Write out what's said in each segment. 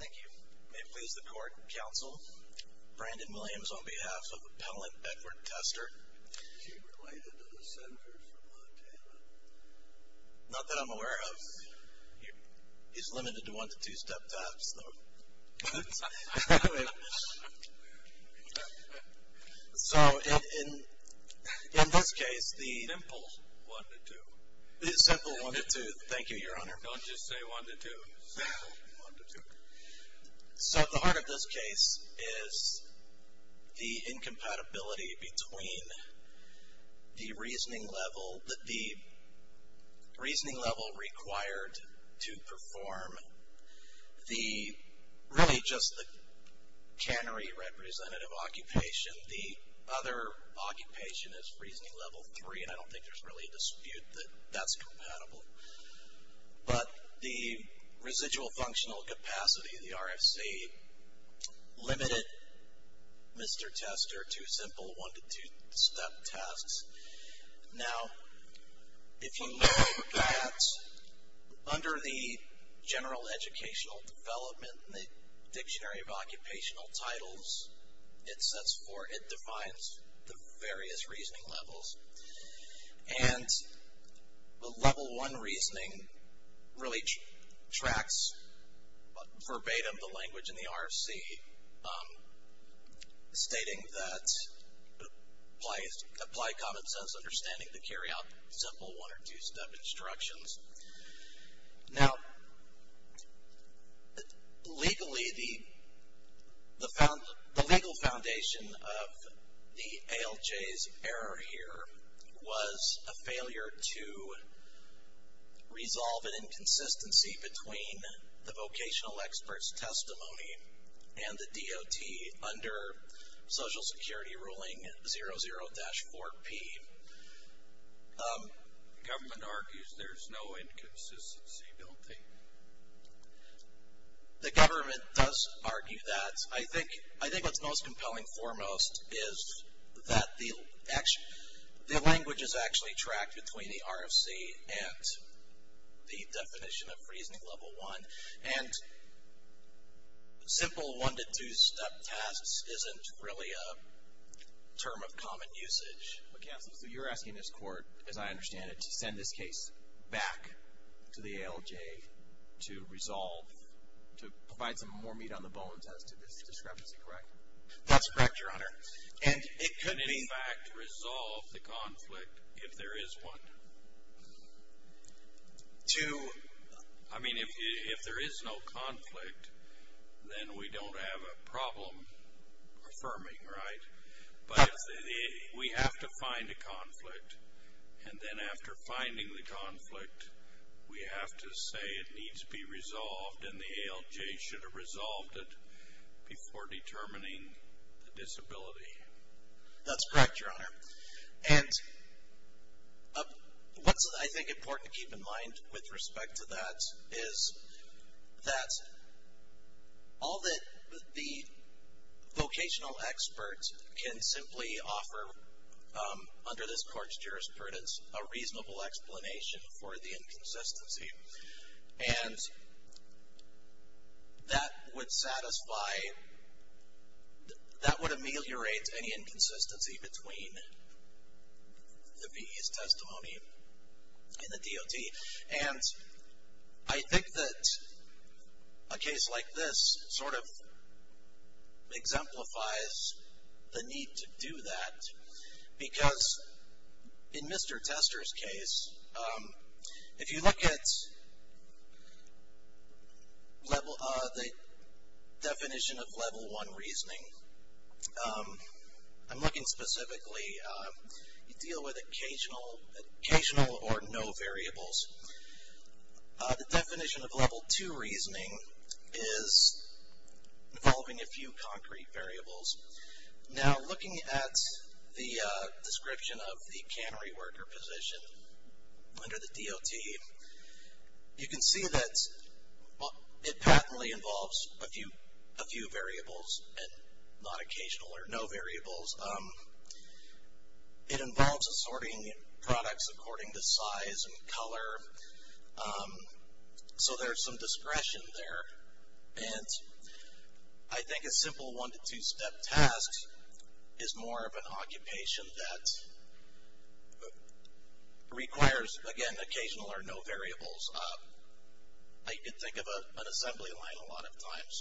Thank you. May it please the court, counsel, Brandon Williams on behalf of Appellant Beckford Tester. Is he related to the Senators of Montana? Not that I'm aware of. He's limited to one to two step taps, though. So, in this case, the... Simple one to two. Simple one to two. Thank you, Your Honor. Don't just say one to two. Simple one to two. So, at the heart of this case is the incompatibility between the reasoning level that the... reasoning level required to perform the... really just the cannery representative occupation. The other occupation is reasoning level three, and I don't think there's really a dispute that that's compatible. But the residual functional capacity of the RFC limited Mr. Tester to simple one to two step tasks. Now, if you know that, under the general educational development in the dictionary of occupational titles, it sets forth, it defines the various reasoning levels. And the level one reasoning really tracks verbatim the language in the RFC, stating that applied common sense understanding to carry out simple one or two step instructions. Now, legally, the legal foundation of the ALJ's error here was a failure to resolve an inconsistency between the vocational expert's testimony and the DOT under Social Security Ruling 00-4P. The government argues there's no inconsistency built in. The government does argue that. I think what's most compelling foremost is that the language is actually tracked between the RFC and the definition of reasoning level one. And simple one to two step tasks isn't really a term of common usage. Counsel, so you're asking this court, as I understand it, to send this case back to the ALJ to resolve, to provide some more meat on the bones as to this discrepancy, correct? That's correct, Your Honor. And it could be. In fact, resolve the conflict if there is one. To. I mean, if there is no conflict, then we don't have a problem affirming, right? But we have to find a conflict. And then after finding the conflict, we have to say it needs to be resolved and the ALJ should have resolved it before determining the disability. That's correct, Your Honor. And what's, I think, important to keep in mind with respect to that is that all that the vocational experts can simply offer under this court's jurisprudence a reasonable explanation for the inconsistency. And that would satisfy, that would ameliorate any inconsistency between the VE's testimony and the DOT. And I think that a case like this sort of exemplifies the need to do that because in Mr. Tester's case, if you look at the definition of level one reasoning, I'm looking specifically, you deal with occasional or no variables. The definition of level two reasoning is involving a few concrete variables. Now, looking at the description of the cannery worker position under the DOT, you can see that it patently involves a few variables and not occasional or no variables. It involves assorting products according to size and color. So there's some discretion there. And I think a simple one- to two-step task is more of an occupation that requires, again, occasional or no variables. I did think of an assembly line a lot of times,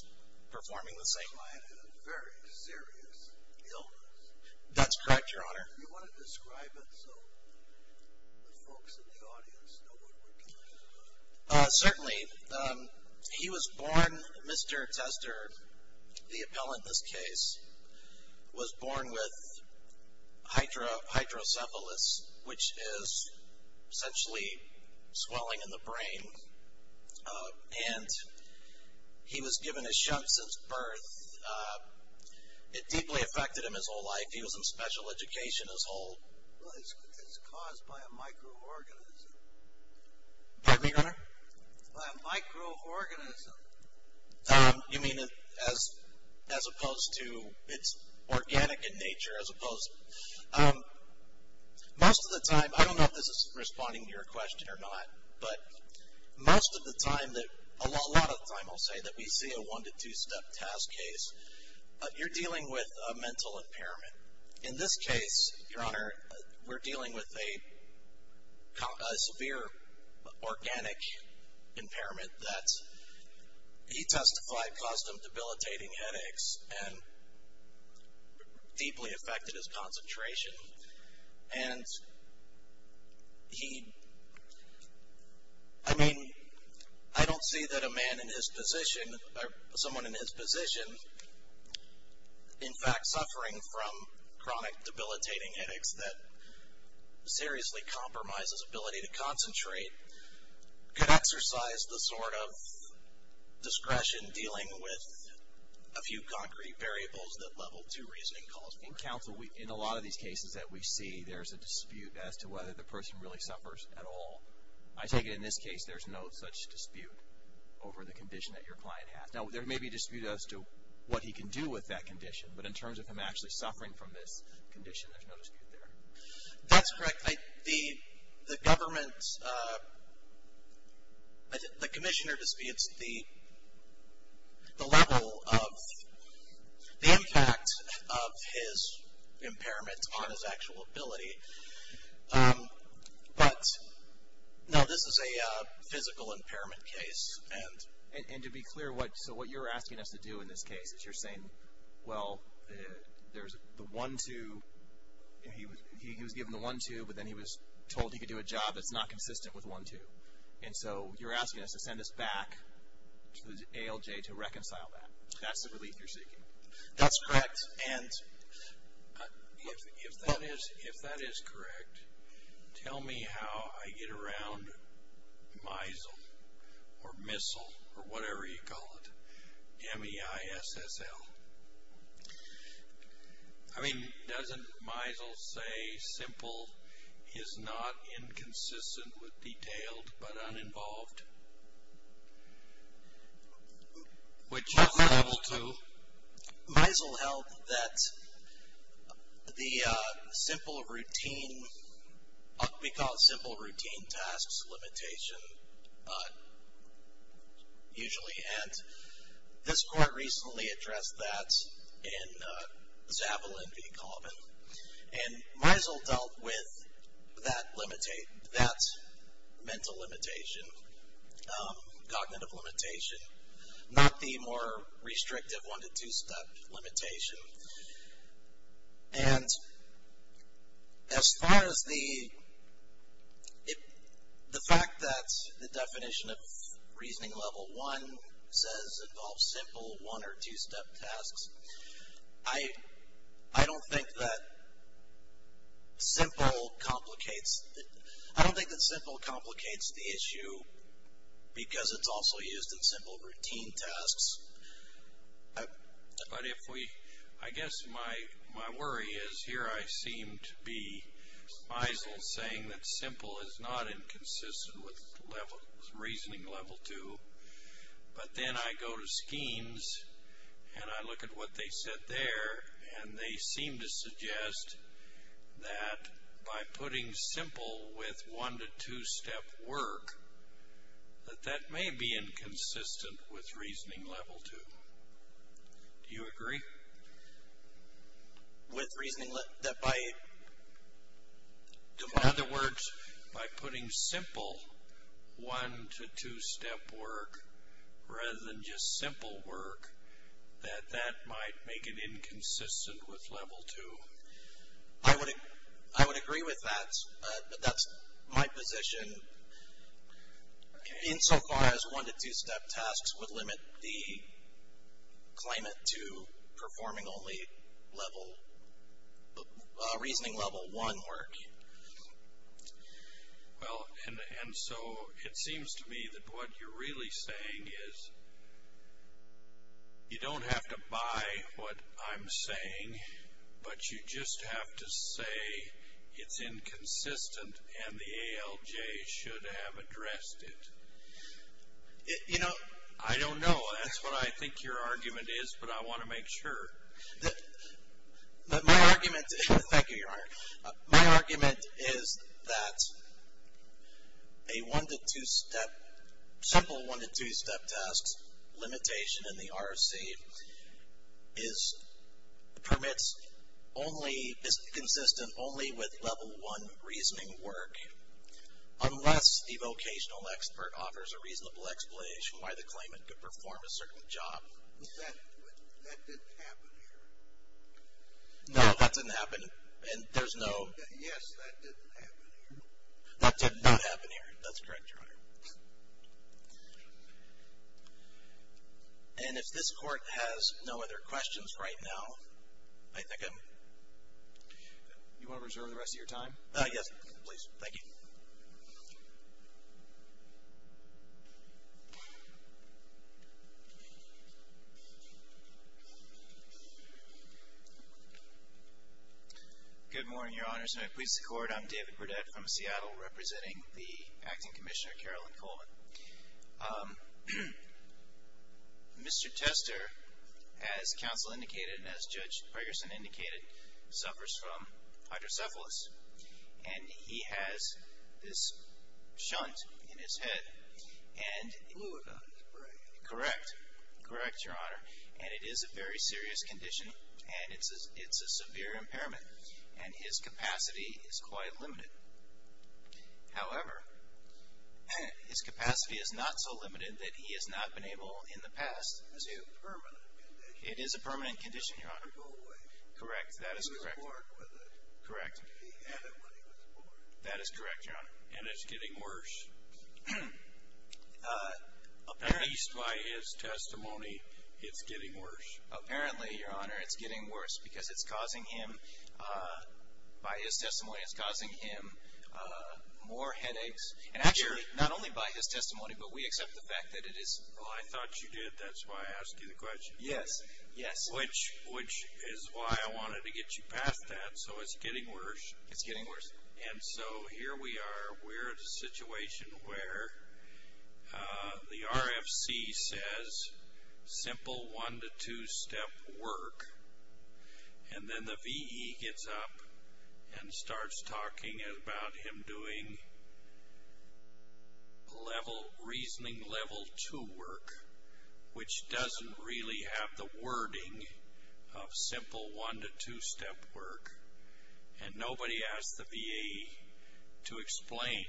performing the same line. I had a very serious illness. That's correct, Your Honor. Do you want to describe it so the folks in the audience know what we're talking about? Certainly. He was born, Mr. Tester, the appellant in this case, was born with hydrocephalus, which is essentially swelling in the brain. And he was given a shunt since birth. It deeply affected him his whole life. He was in special education his whole life. It's caused by a microorganism. Pardon me, Your Honor? By a microorganism. You mean as opposed to it's organic in nature, as opposed to. Most of the time, I don't know if this is responding to your question or not, but most of the time, a lot of the time, I'll say, that we see a one- to two-step task case, you're dealing with a mental impairment. In this case, Your Honor, we're dealing with a severe organic impairment that he testified caused him debilitating headaches and deeply affected his concentration. And he, I mean, I don't see that a man in his position, or someone in his position, in fact suffering from chronic debilitating headaches that seriously compromises ability to concentrate, could exercise the sort of discretion dealing with a few concrete variables that level two reasoning calls for. In counsel, in a lot of these cases that we see, there's a dispute as to whether the person really suffers at all. I take it in this case, there's no such dispute over the condition that your client has. Now, there may be a dispute as to what he can do with that condition, but in terms of him actually suffering from this condition, there's no dispute there. That's correct. The government, the commissioner disputes the level of, the impact of his impairment on his actual ability. But, no, this is a physical impairment case. And to be clear, so what you're asking us to do in this case is you're saying, well, there's the one-two, he was given the one-two, but then he was told he could do a job that's not consistent with one-two. And so you're asking us to send this back to the ALJ to reconcile that. That's the relief you're seeking. That's correct. And if that is correct, tell me how I get around MISL, or missile, or whatever you call it, M-E-I-S-S-L. I mean, doesn't MISL say simple is not inconsistent with detailed but uninvolved, which is level two. MISL held that the simple routine, we call it simple routine tasks limitation usually, and this court recently addressed that in Zavalin v. Colvin. And MISL dealt with that mental limitation, cognitive limitation, not the more restrictive one- to two-step limitation. And as far as the fact that the definition of reasoning level one says involves simple one- or two-step tasks, I don't think that simple complicates the issue because it's also used in simple routine tasks. But I guess my worry is here I seem to be MISL saying that simple is not inconsistent with reasoning level two. But then I go to schemes, and I look at what they said there, and they seem to suggest that by putting simple with one- to two-step work, that that may be inconsistent with reasoning level two. Do you agree? With reasoning that by? In other words, by putting simple one- to two-step work rather than just simple work, that that might make it inconsistent with level two. I would agree with that. That's my position. Insofar as one- to two-step tasks would limit the claimant to performing only reasoning level one work. Well, and so it seems to me that what you're really saying is you don't have to buy what I'm saying, but you just have to say it's inconsistent and the ALJ should have addressed it. You know. I don't know. That's what I think your argument is, but I want to make sure. Thank you, Your Honor. My argument is that a one- to two-step, simple one- to two-step tasks limitation in the ROC is, permits only, is inconsistent only with level one reasoning work, unless the vocational expert offers a reasonable explanation why the claimant could perform a certain job. That didn't happen here. No, that didn't happen. And there's no. Yes, that didn't happen here. That did not happen here. That's correct, Your Honor. And if this Court has no other questions right now, I think I'm. You want to reserve the rest of your time? Yes, please. Thank you. Good morning, Your Honors, and I please the Court. I'm David Burdett from Seattle, representing the Acting Commissioner, Carolyn Coleman. Mr. Tester, as counsel indicated and as Judge Ferguson indicated, suffers from hydrocephalus, and he has this shunt in his head and. Blue about his brain. Correct. Correct, Your Honor, and it is a very serious condition, and it's a severe impairment, and his capacity is quite limited. However, his capacity is not so limited that he has not been able in the past to. It's a permanent condition. It is a permanent condition, Your Honor. Correct. That is correct. Correct. That is correct, Your Honor. And it's getting worse. At least by his testimony, it's getting worse. Apparently, Your Honor, it's getting worse because it's causing him, by his testimony, it's causing him more headaches. And actually, not only by his testimony, but we accept the fact that it is. Well, I thought you did. That's why I asked you the question. Yes. Yes. Which is why I wanted to get you past that. So it's getting worse. It's getting worse. And so here we are. We're at a situation where the RFC says simple one- to two-step work, and then the V.E. gets up and starts talking about him doing reasoning level two work, which doesn't really have the wording of simple one- to two-step work. And nobody asked the V.E. to explain.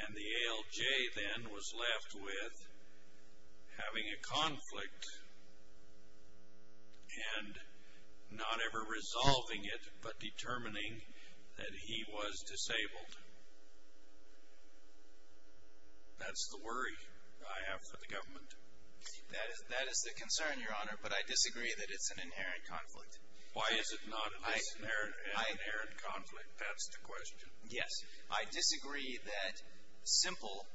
And the ALJ then was left with having a conflict and not ever resolving it, but determining that he was disabled. That's the worry I have for the government. That is the concern, Your Honor, but I disagree that it's an inherent conflict. Why is it not an inherent conflict? That's the question. Yes. I disagree that simple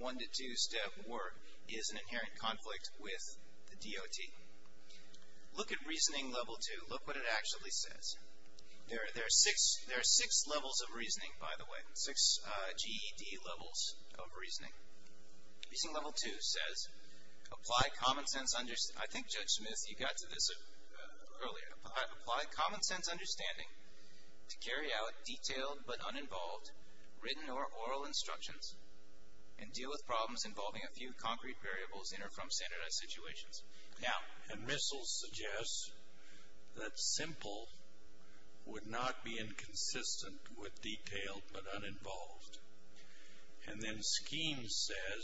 one-to-two-step work is an inherent conflict with the DOT. Look at reasoning level two. Look what it actually says. There are six levels of reasoning, by the way, six GED levels of reasoning. Reasoning level two says, apply common-sense understanding. I think, Judge Smith, you got to this earlier. Apply common-sense understanding to carry out detailed but uninvolved written or oral instructions and deal with problems involving a few concrete variables in or from standardized situations. Now, and Rissell suggests that simple would not be inconsistent with detailed but uninvolved. And then Skeens says,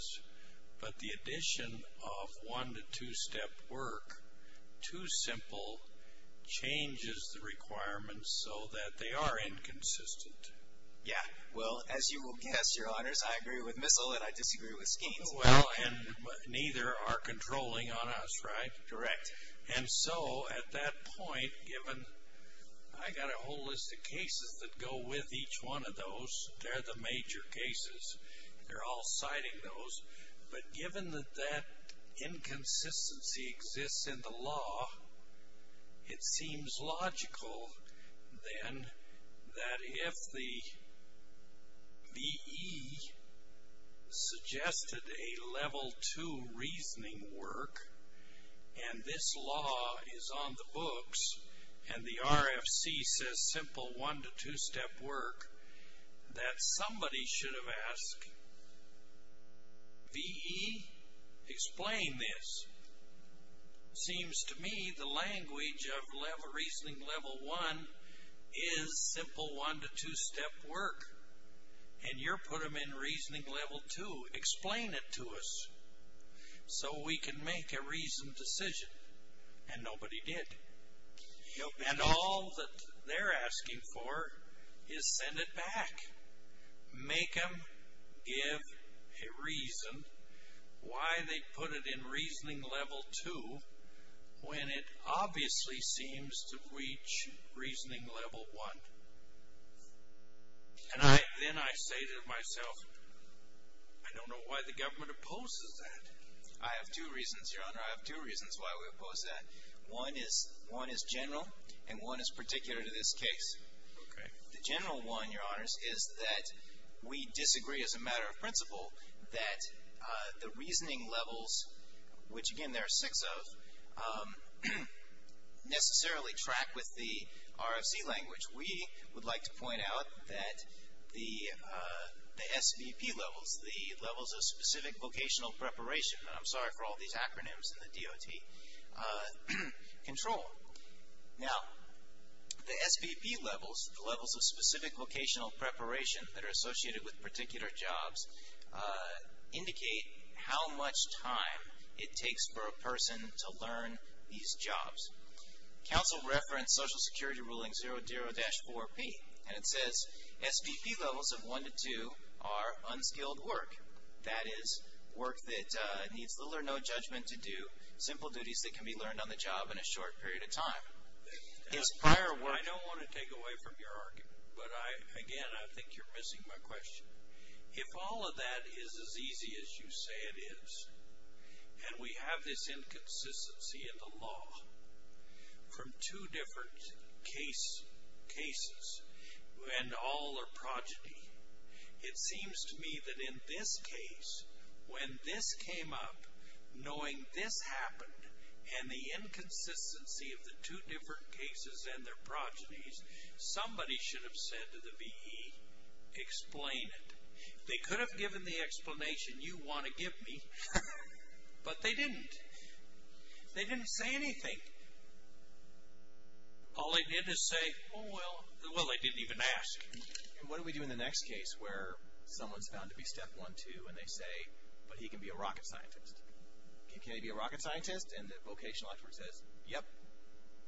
but the addition of one-to-two-step work to simple changes the requirements so that they are inconsistent. Yeah. Well, as you will guess, Your Honors, I agree with Rissell and I disagree with Skeens. Well, and neither are controlling on us, right? Correct. And so at that point, given I got a whole list of cases that go with each one of those. They're the major cases. They're all citing those. But given that that inconsistency exists in the law, it seems logical, then, that if the V.E. suggested a level two reasoning work and this law is on the books and the RFC says simple one-to-two-step work, that somebody should have asked, V.E., explain this. Seems to me the language of reasoning level one is simple one-to-two-step work. And you're putting them in reasoning level two. Explain it to us so we can make a reasoned decision. And nobody did. And all that they're asking for is send it back. Make them give a reason why they put it in reasoning level two when it obviously seems to reach reasoning level one. And then I say to myself, I don't know why the government opposes that. I have two reasons, Your Honor. I have two reasons why we oppose that. One is general and one is particular to this case. Okay. The general one, Your Honors, is that we disagree as a matter of principle that the reasoning levels, which, again, there are six of, necessarily track with the RFC language. We would like to point out that the SVP levels, the levels of specific vocational preparation, and I'm sorry for all these acronyms in the DOT, control. Now, the SVP levels, the levels of specific vocational preparation that are associated with particular jobs, indicate how much time it takes for a person to learn these jobs. Counsel referenced Social Security Ruling 00-4B, and it says SVP levels of one to two are unskilled work. That is work that needs little or no judgment to do simple duties that can be learned on the job in a short period of time. I don't want to take away from your argument, but, again, I think you're missing my question. If all of that is as easy as you say it is, and we have this inconsistency in the law from two different cases, and all are progeny, it seems to me that in this case, when this came up, knowing this happened and the inconsistency of the two different cases and their progenies, somebody should have said to the VE, explain it. They could have given the explanation you want to give me, but they didn't. They didn't say anything. All they did is say, oh, well, they didn't even ask. What do we do in the next case where someone's found to be Step 1-2, and they say, but he can be a rocket scientist? Can he be a rocket scientist? And the vocational expert says, yep,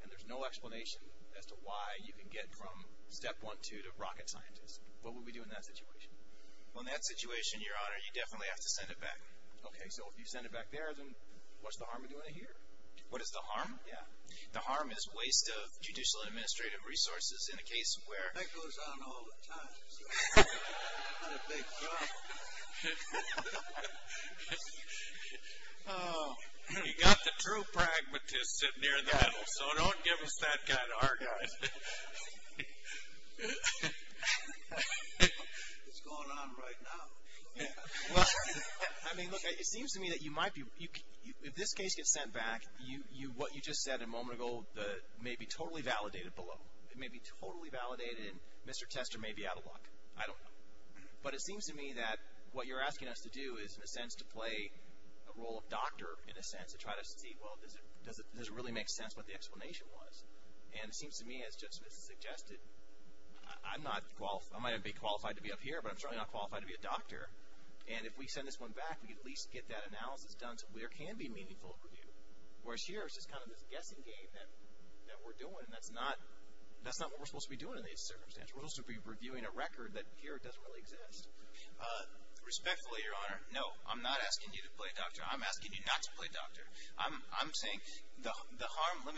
and there's no explanation as to why you can get from Step 1-2 to rocket scientist. What would we do in that situation? Well, in that situation, Your Honor, you definitely have to send it back. Okay, so if you send it back there, then what's the harm of doing it here? What is the harm? Yeah. The harm is waste of judicial and administrative resources in a case where… That goes on all the time. That's a big jump. Oh. We've got the true pragmatists sitting here in the middle, so don't give us that kind of hard-on. It's going on right now. Well, I mean, look, it seems to me that you might be – if this case gets sent back, what you just said a moment ago may be totally validated below. It may be totally validated, and Mr. Tester may be out of luck. I don't know. But it seems to me that what you're asking us to do is, in a sense, to play a role of doctor, in a sense, to try to see, well, does it really make sense what the explanation was? And it seems to me, as Justice Smith suggested, I'm not – I might not be qualified to be up here, but I'm certainly not qualified to be a doctor. And if we send this one back, we can at least get that analysis done to where it can be meaningful review, whereas here it's just kind of this guessing game that we're doing, and that's not what we're supposed to be doing in these circumstances. We're supposed to be reviewing a record that here doesn't really exist. Respectfully, Your Honor, no, I'm not asking you to play doctor. I'm asking you not to play doctor. I'm saying the harm – let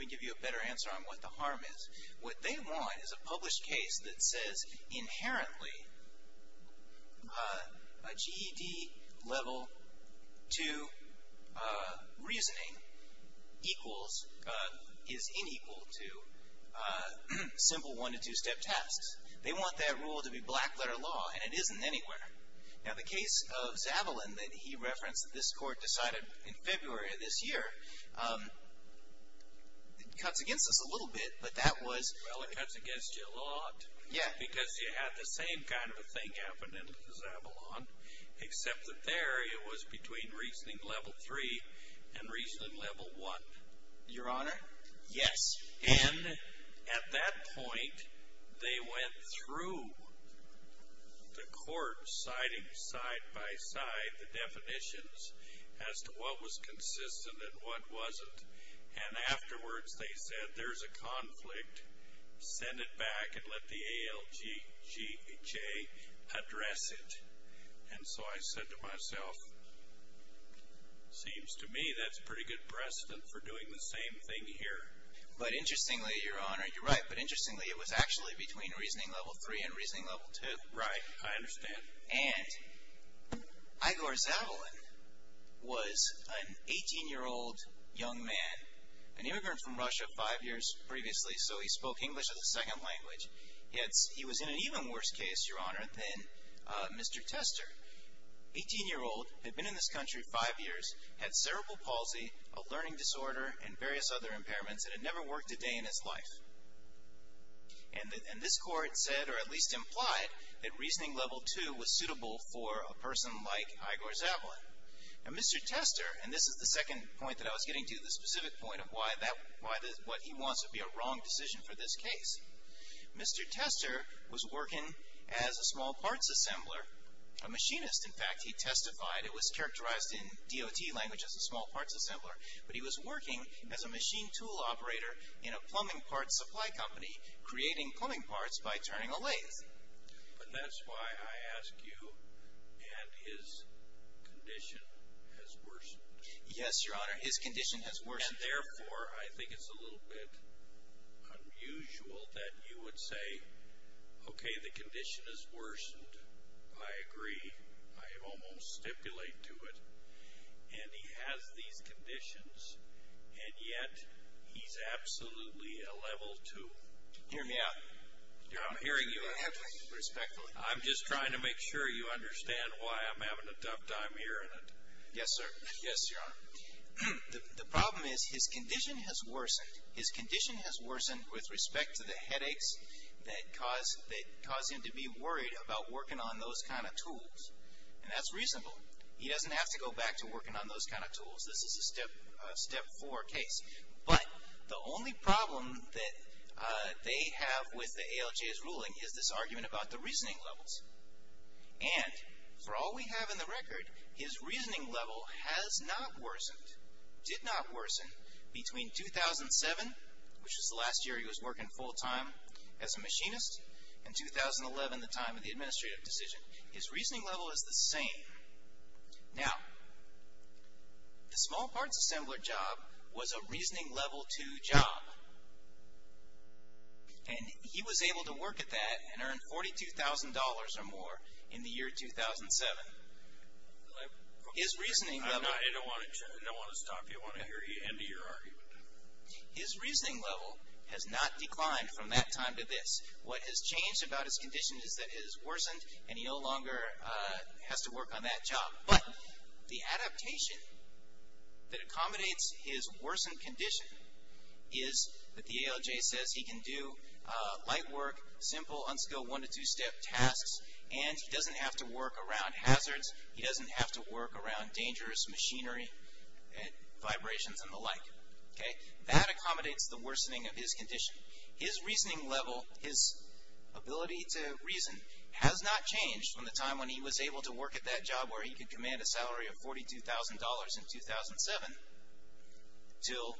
me give you a better answer on what the harm is. What they want is a published case that says inherently a GED level 2 reasoning equals – is inequal to simple one- to two-step tests. They want that rule to be black-letter law, and it isn't anywhere. Now, the case of Zavalin that he referenced that this Court decided in February of this year, it cuts against us a little bit, but that was – Well, it cuts against you a lot. Yeah. Because you had the same kind of a thing happen in Zavalin, except that there it was between reasoning level 3 and reasoning level 1. Your Honor? Yes. And at that point, they went through the Court, deciding side-by-side the definitions as to what was consistent and what wasn't. And afterwards, they said, there's a conflict. Send it back and let the ALGHA address it. And so I said to myself, seems to me that's pretty good precedent for doing the same thing here. But interestingly, Your Honor, you're right, but interestingly it was actually between reasoning level 3 and reasoning level 2. Right. I understand. And Igor Zavalin was an 18-year-old young man, an immigrant from Russia five years previously, so he spoke English as a second language. Yet he was in an even worse case, Your Honor, than Mr. Tester. Eighteen-year-old, had been in this country five years, had cerebral palsy, a learning disorder, and various other impairments, and had never worked a day in his life. And this Court said, or at least implied, that reasoning level 2 was suitable for a person like Igor Zavalin. And Mr. Tester, and this is the second point that I was getting to, the specific point of why he wants it to be a wrong decision for this case. Mr. Tester was working as a small parts assembler, a machinist. In fact, he testified, it was characterized in DOT language as a small parts assembler, but he was working as a machine tool operator in a plumbing parts supply company, creating plumbing parts by turning a lathe. But that's why I ask you, and his condition has worsened. Yes, Your Honor, his condition has worsened. And therefore, I think it's a little bit unusual that you would say, okay, the condition has worsened. I agree. I almost stipulate to it. And he has these conditions, and yet he's absolutely a level 2. Hear me out. I'm hearing you. Respectfully. I'm just trying to make sure you understand why I'm having a tough time hearing it. Yes, sir. Yes, Your Honor. The problem is his condition has worsened. His condition has worsened with respect to the headaches that cause him to be worried about working on those kind of tools. And that's reasonable. He doesn't have to go back to working on those kind of tools. This is a step 4 case. But the only problem that they have with the ALJ's ruling is this argument about the reasoning levels. And for all we have in the record, his reasoning level has not worsened, did not worsen, between 2007, which was the last year he was working full time as a machinist, and 2011, the time of the administrative decision. His reasoning level is the same. Now, the small parts assembler job was a reasoning level 2 job. And he was able to work at that and earn $42,000 or more in the year 2007. I don't want to stop you. I want to hear you end your argument. His reasoning level has not declined from that time to this. What has changed about his condition is that it has worsened, and he no longer has to work on that job. But the adaptation that accommodates his worsened condition is that the ALJ says he can do light work, simple, unskilled, one-to-two-step tasks, and he doesn't have to work around hazards. He doesn't have to work around dangerous machinery, vibrations, and the like. That accommodates the worsening of his condition. His reasoning level, his ability to reason, has not changed from the time when he was able to work at that job where he could command a salary of $42,000 in 2007 until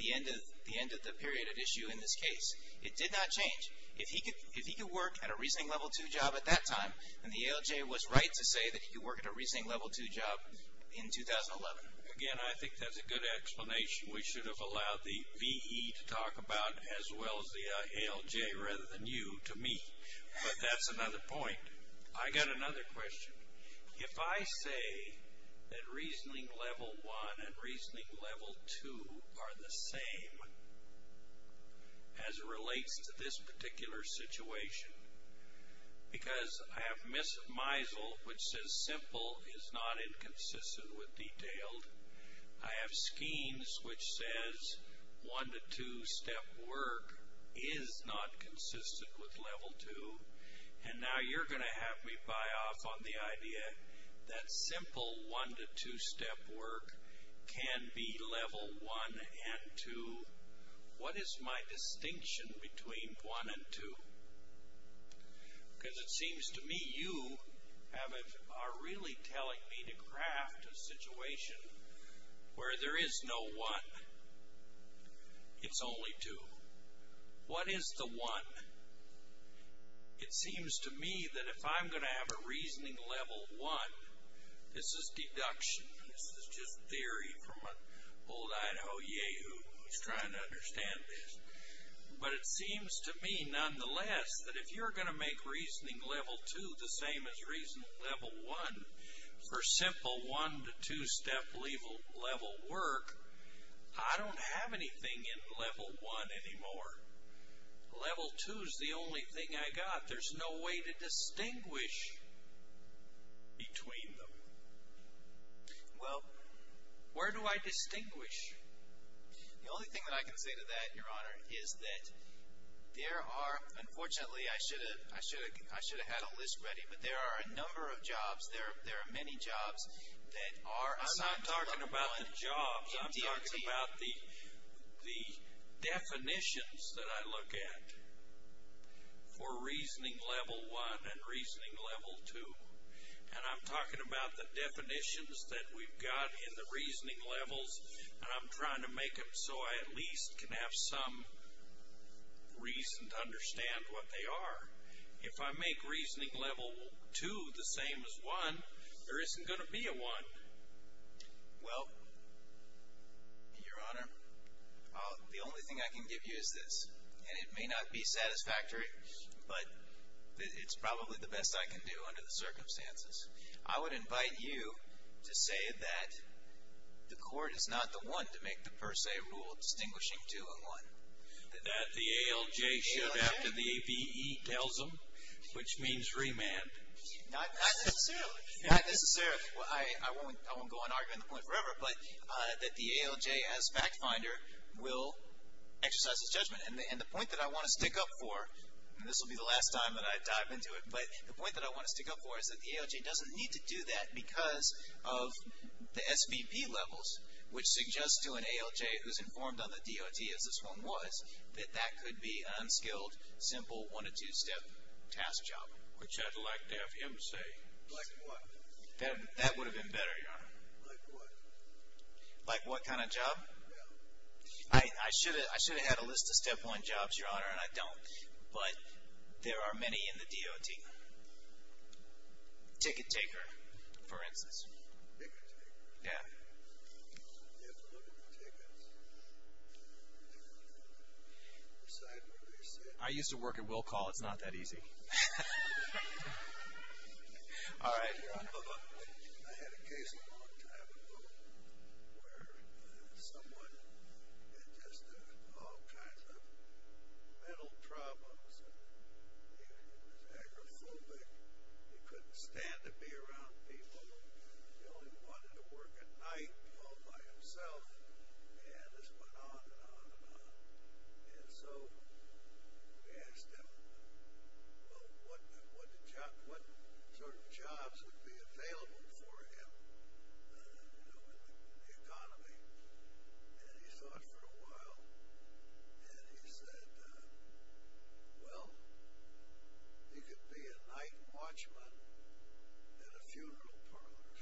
the end of the period at issue in this case. It did not change. If he could work at a reasoning level 2 job at that time, then the ALJ was right to say that he could work at a reasoning level 2 job in 2011. Again, I think that's a good explanation. We should have allowed the BE to talk about as well as the ALJ rather than you to me. But that's another point. I got another question. If I say that reasoning level 1 and reasoning level 2 are the same as it relates to this particular situation, because I have Meisel, which says simple is not inconsistent with detailed. I have Schemes, which says one-to-two-step work is not consistent with level 2. And now you're going to have me buy off on the idea that simple one-to-two-step work can be level 1 and 2. What is my distinction between 1 and 2? Because it seems to me you are really telling me to craft a situation where there is no 1. It's only 2. What is the 1? It seems to me that if I'm going to have a reasoning level 1, this is deduction. This is just theory from an old Idaho Yehoo who's trying to understand this. But it seems to me, nonetheless, that if you're going to make reasoning level 2 the same as reasoning level 1 for simple one-to-two-step level work, I don't have anything in level 1 anymore. Level 2 is the only thing I got. There's no way to distinguish between them. Well, where do I distinguish? The only thing that I can say to that, Your Honor, is that there are, unfortunately, I should have had a list ready, but there are a number of jobs, there are many jobs that are under level 1. I'm talking about the definitions that I look at for reasoning level 1 and reasoning level 2. And I'm talking about the definitions that we've got in the reasoning levels, and I'm trying to make them so I at least can have some reason to understand what they are. If I make reasoning level 2 the same as 1, there isn't going to be a 1. Well, Your Honor, the only thing I can give you is this, and it may not be satisfactory, but it's probably the best I can do under the circumstances. I would invite you to say that the court is not the one to make the per se rule distinguishing 2 and 1. That the ALJ should after the AVE tells them, which means remand. Not necessarily. Not necessarily. I won't go on arguing the point forever, but that the ALJ as fact finder will exercise its judgment. And the point that I want to stick up for, and this will be the last time that I dive into it, but the point that I want to stick up for is that the ALJ doesn't need to do that because of the SVP levels, which suggests to an ALJ who's informed on the DOT, as this one was, that that could be an unskilled, simple, one- or two-step task job. Which I'd like to have him say. Like what? That would have been better, Your Honor. Like what? Like what kind of job? Yeah. I should have had a list of step-one jobs, Your Honor, and I don't. But there are many in the DOT. Ticket taker, for instance. Ticket taker? Yeah. You have to look at the tickets. I used to work at Will Call. It's not that easy. All right. I had a case a long time ago where someone had just all kinds of mental problems. He was agoraphobic. He couldn't stand to be around people. He only wanted to work at night all by himself. And this went on and on and on. And so we asked him, well, what sort of jobs would be available for him in the economy? And he thought for a while. And he said, well, he could be a night watchman in a funeral parlor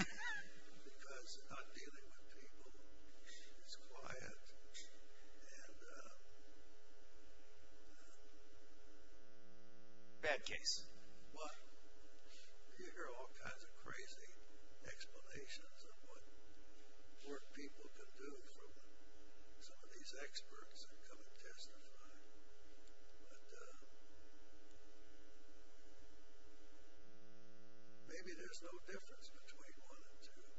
because not dealing with people is quiet. Bad case. Well, you hear all kinds of crazy explanations of what poor people can do from some of these experts that come and testify. But maybe there's no difference between one and two,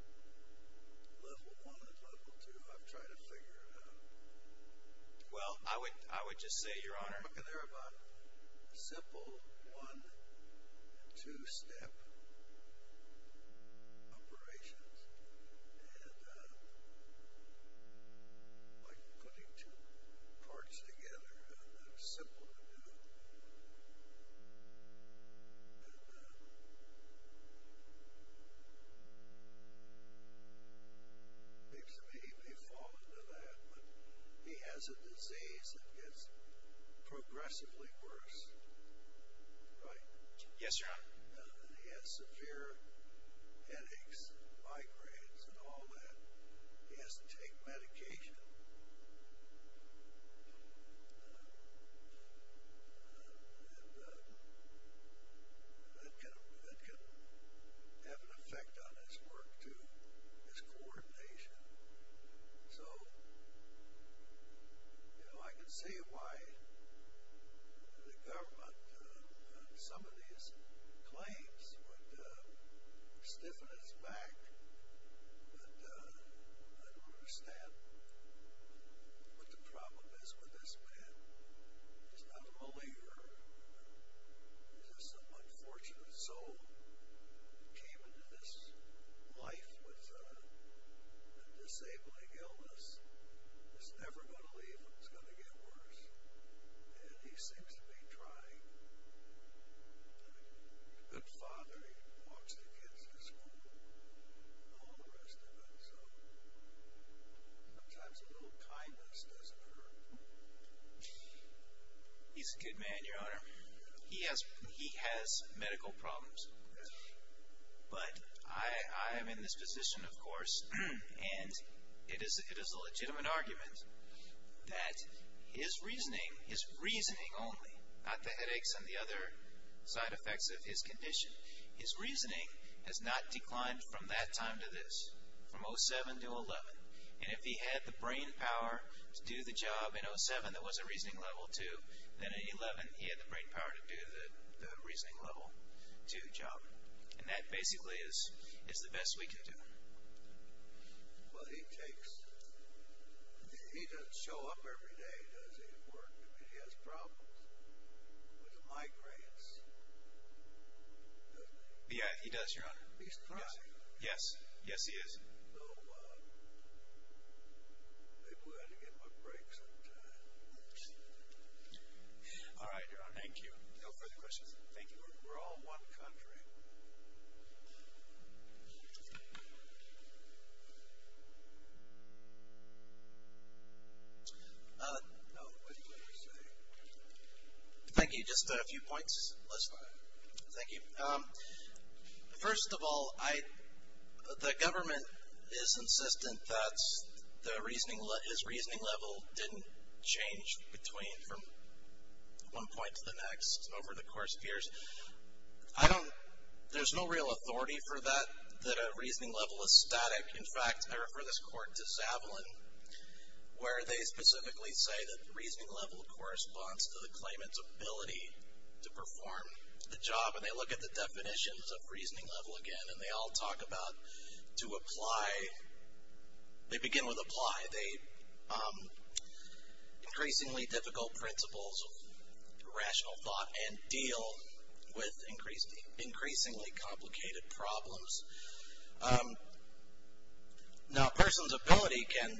level one and level two. I've tried to figure it out. Well, I would just say, Your Honor. They're about simple one- and two-step operations. And by putting two parts together, they're simple to do. And he may fall into that. But he has a disease that gets progressively worse, right? Yes, Your Honor. He has severe headaches, migraines, and all that. He has to take medication. And that can have an effect on his work, too, his coordination. So, you know, I can see why the government, some of these claims would stiffen his back. But I don't understand what the problem is with this man. He's not a believer. He's just an unfortunate soul who came into this life with a disabling illness. It's never going to leave him. It's going to get worse. And he seems to be trying. He's a good father. He walks the kids to school and all the rest of it. So sometimes a little kindness doesn't hurt. He's a good man, Your Honor. He has medical problems. But I am in this position, of course, and it is a legitimate argument that his reasoning, his reasoning only, not the headaches and the other side effects of his condition, his reasoning has not declined from that time to this, from 07 to 11. And if he had the brainpower to do the job in 07 that was a reasoning level 2, then in 11 he had the brainpower to do the reasoning level 2 job. And that basically is the best we can do. Well, he takes – he doesn't show up every day, does he, at work? I mean, he has problems with the migraines, doesn't he? Yeah, he does, Your Honor. He's crossing. Yes. Yes, he is. So maybe we ought to give him a break sometime. All right, Your Honor. Thank you. No further questions. Thank you. We're all one country. No, what do you want to say? Thank you. Just a few points. Let's start. Thank you. First of all, the government is insistent that his reasoning level didn't change from one point to the next over the course of years. I don't – there's no real authority for that, that a reasoning level is static. In fact, I refer this court to Zavalin, where they specifically say that the reasoning level corresponds to the claimant's ability to perform the job. And they look at the definitions of reasoning level again, and they all talk about to apply – they begin with apply. They – increasingly difficult principles of rational thought and deal with increasingly complicated problems. Now, a person's ability can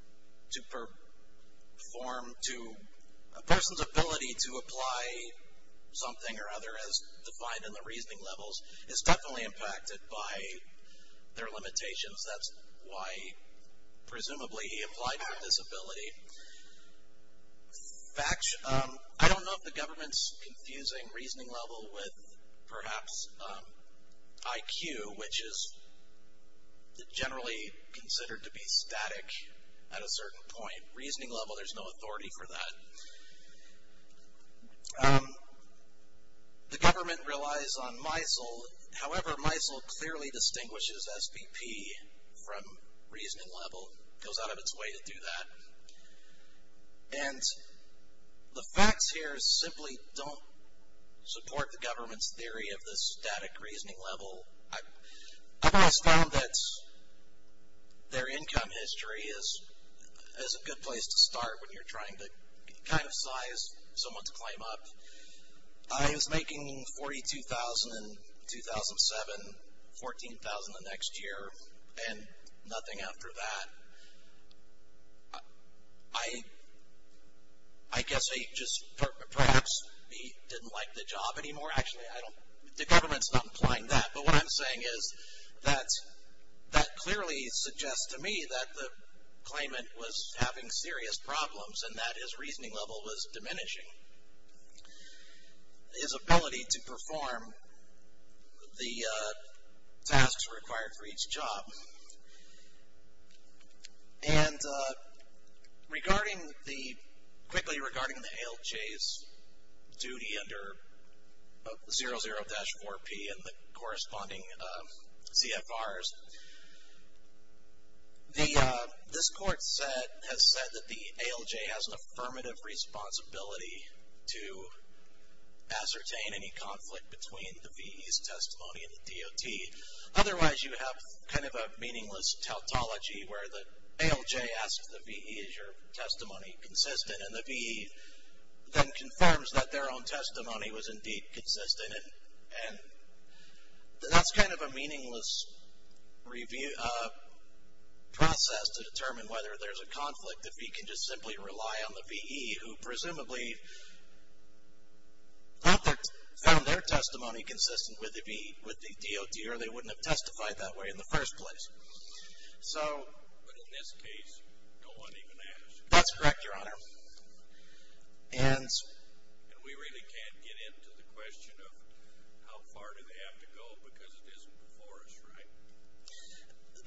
– to perform to – a person's ability to apply something or other as defined in the reasoning levels is definitely impacted by their limitations. That's why presumably he applied for disability. In fact, I don't know if the government's confusing reasoning level with perhaps IQ, which is generally considered to be static at a certain point. Reasoning level, there's no authority for that. The government relies on MISL. However, MISL clearly distinguishes SPP from reasoning level. It goes out of its way to do that. And the facts here simply don't support the government's theory of the static reasoning level. I've always found that their income history is a good place to start when you're trying to kind of size someone's claim up. I was making $42,000 in 2007, $14,000 the next year, and nothing after that. I guess I just – perhaps he didn't like the job anymore. Actually, I don't – the government's not implying that. But what I'm saying is that that clearly suggests to me that the claimant was having serious problems, and that his reasoning level was diminishing. His ability to perform the tasks required for each job. And regarding the – quickly regarding the ALJ's duty under 00-4P and the corresponding CFRs, this court has said that the ALJ has an affirmative responsibility to ascertain any conflict between the VE's testimony and the DOT. Otherwise, you have kind of a meaningless tautology where the ALJ asks the VE, is your testimony consistent? And the VE then confirms that their own testimony was indeed consistent. And that's kind of a meaningless process to determine whether there's a conflict, if he can just simply rely on the VE, who presumably found their testimony consistent with the VE, with the DOT, or they wouldn't have testified that way in the first place. So. But in this case, no one even asked. That's correct, Your Honor. And we really can't get into the question of how far do they have to go, because it isn't before us, right?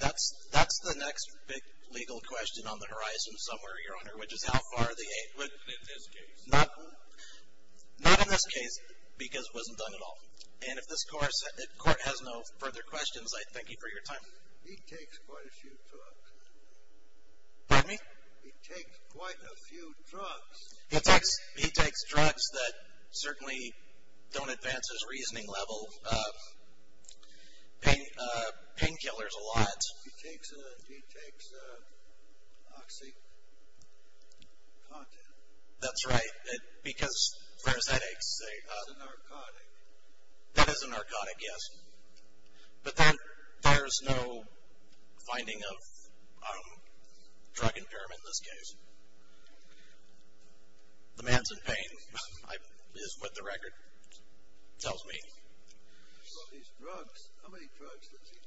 That's the next big legal question on the horizon somewhere, Your Honor, which is how far are they – Not in this case. Not in this case, because it wasn't done at all. And if this court has no further questions, I thank you for your time. He takes quite a few talks. Pardon me? He takes quite a few drugs. He takes drugs that certainly don't advance his reasoning level. Painkillers a lot. He takes Oxycontin. That's right, because for his headaches. That's a narcotic. That is a narcotic, yes. But there's no finding of drug impairment in this case. The man's in pain is what the record tells me. He's got these drugs. How many drugs does he take?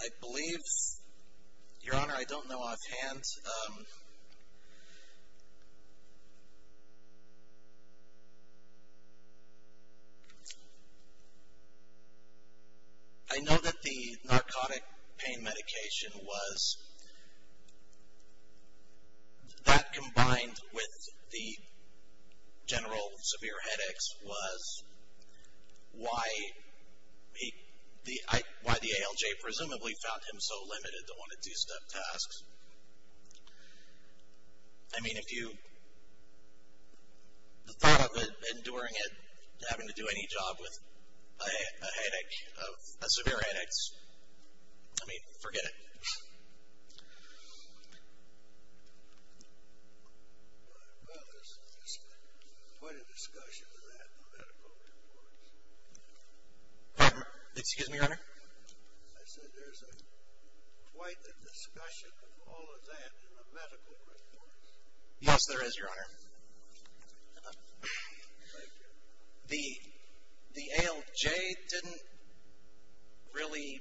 I believe, Your Honor, I don't know offhand. I know that the narcotic pain medication was – that combined with the general severe headaches was why the ALJ presumably found him so limited to one- to two-step tasks. I mean, if you thought of enduring it, having to do any job with a headache, a severe headache, I mean, forget it. Well, there's quite a discussion of that in the medical reports. Excuse me, Your Honor? I said there's quite a discussion of all of that in the medical reports. Yes, there is, Your Honor. The ALJ didn't really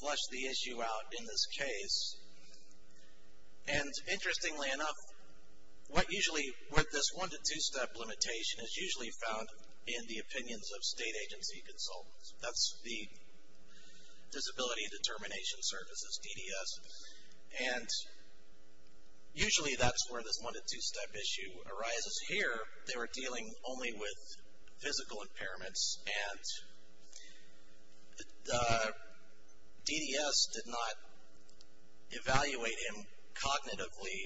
flesh the issue out in this case, and interestingly enough, what usually – what this one- to two-step limitation is usually found in the opinions of state agency consultants. That's the Disability Determination Services, DDS, and usually that's where this one- to two-step issue arises. Here, they were dealing only with physical impairments, and the DDS did not evaluate him cognitively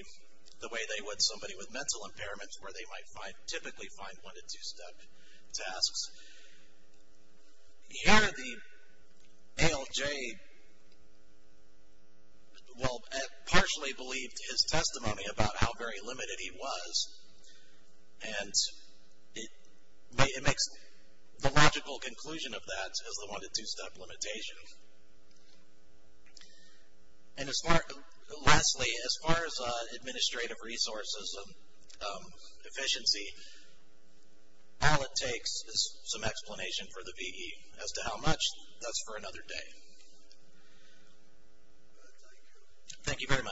the way they would somebody with mental impairments, where they might typically find one- to two-step tasks. Here, the ALJ, well, partially believed his testimony about how very limited he was, and it makes the logical conclusion of that as the one- to two-step limitation. And lastly, as far as administrative resources and efficiency, all it takes is some explanation for the VE. As to how much, that's for another day. Thank you very much.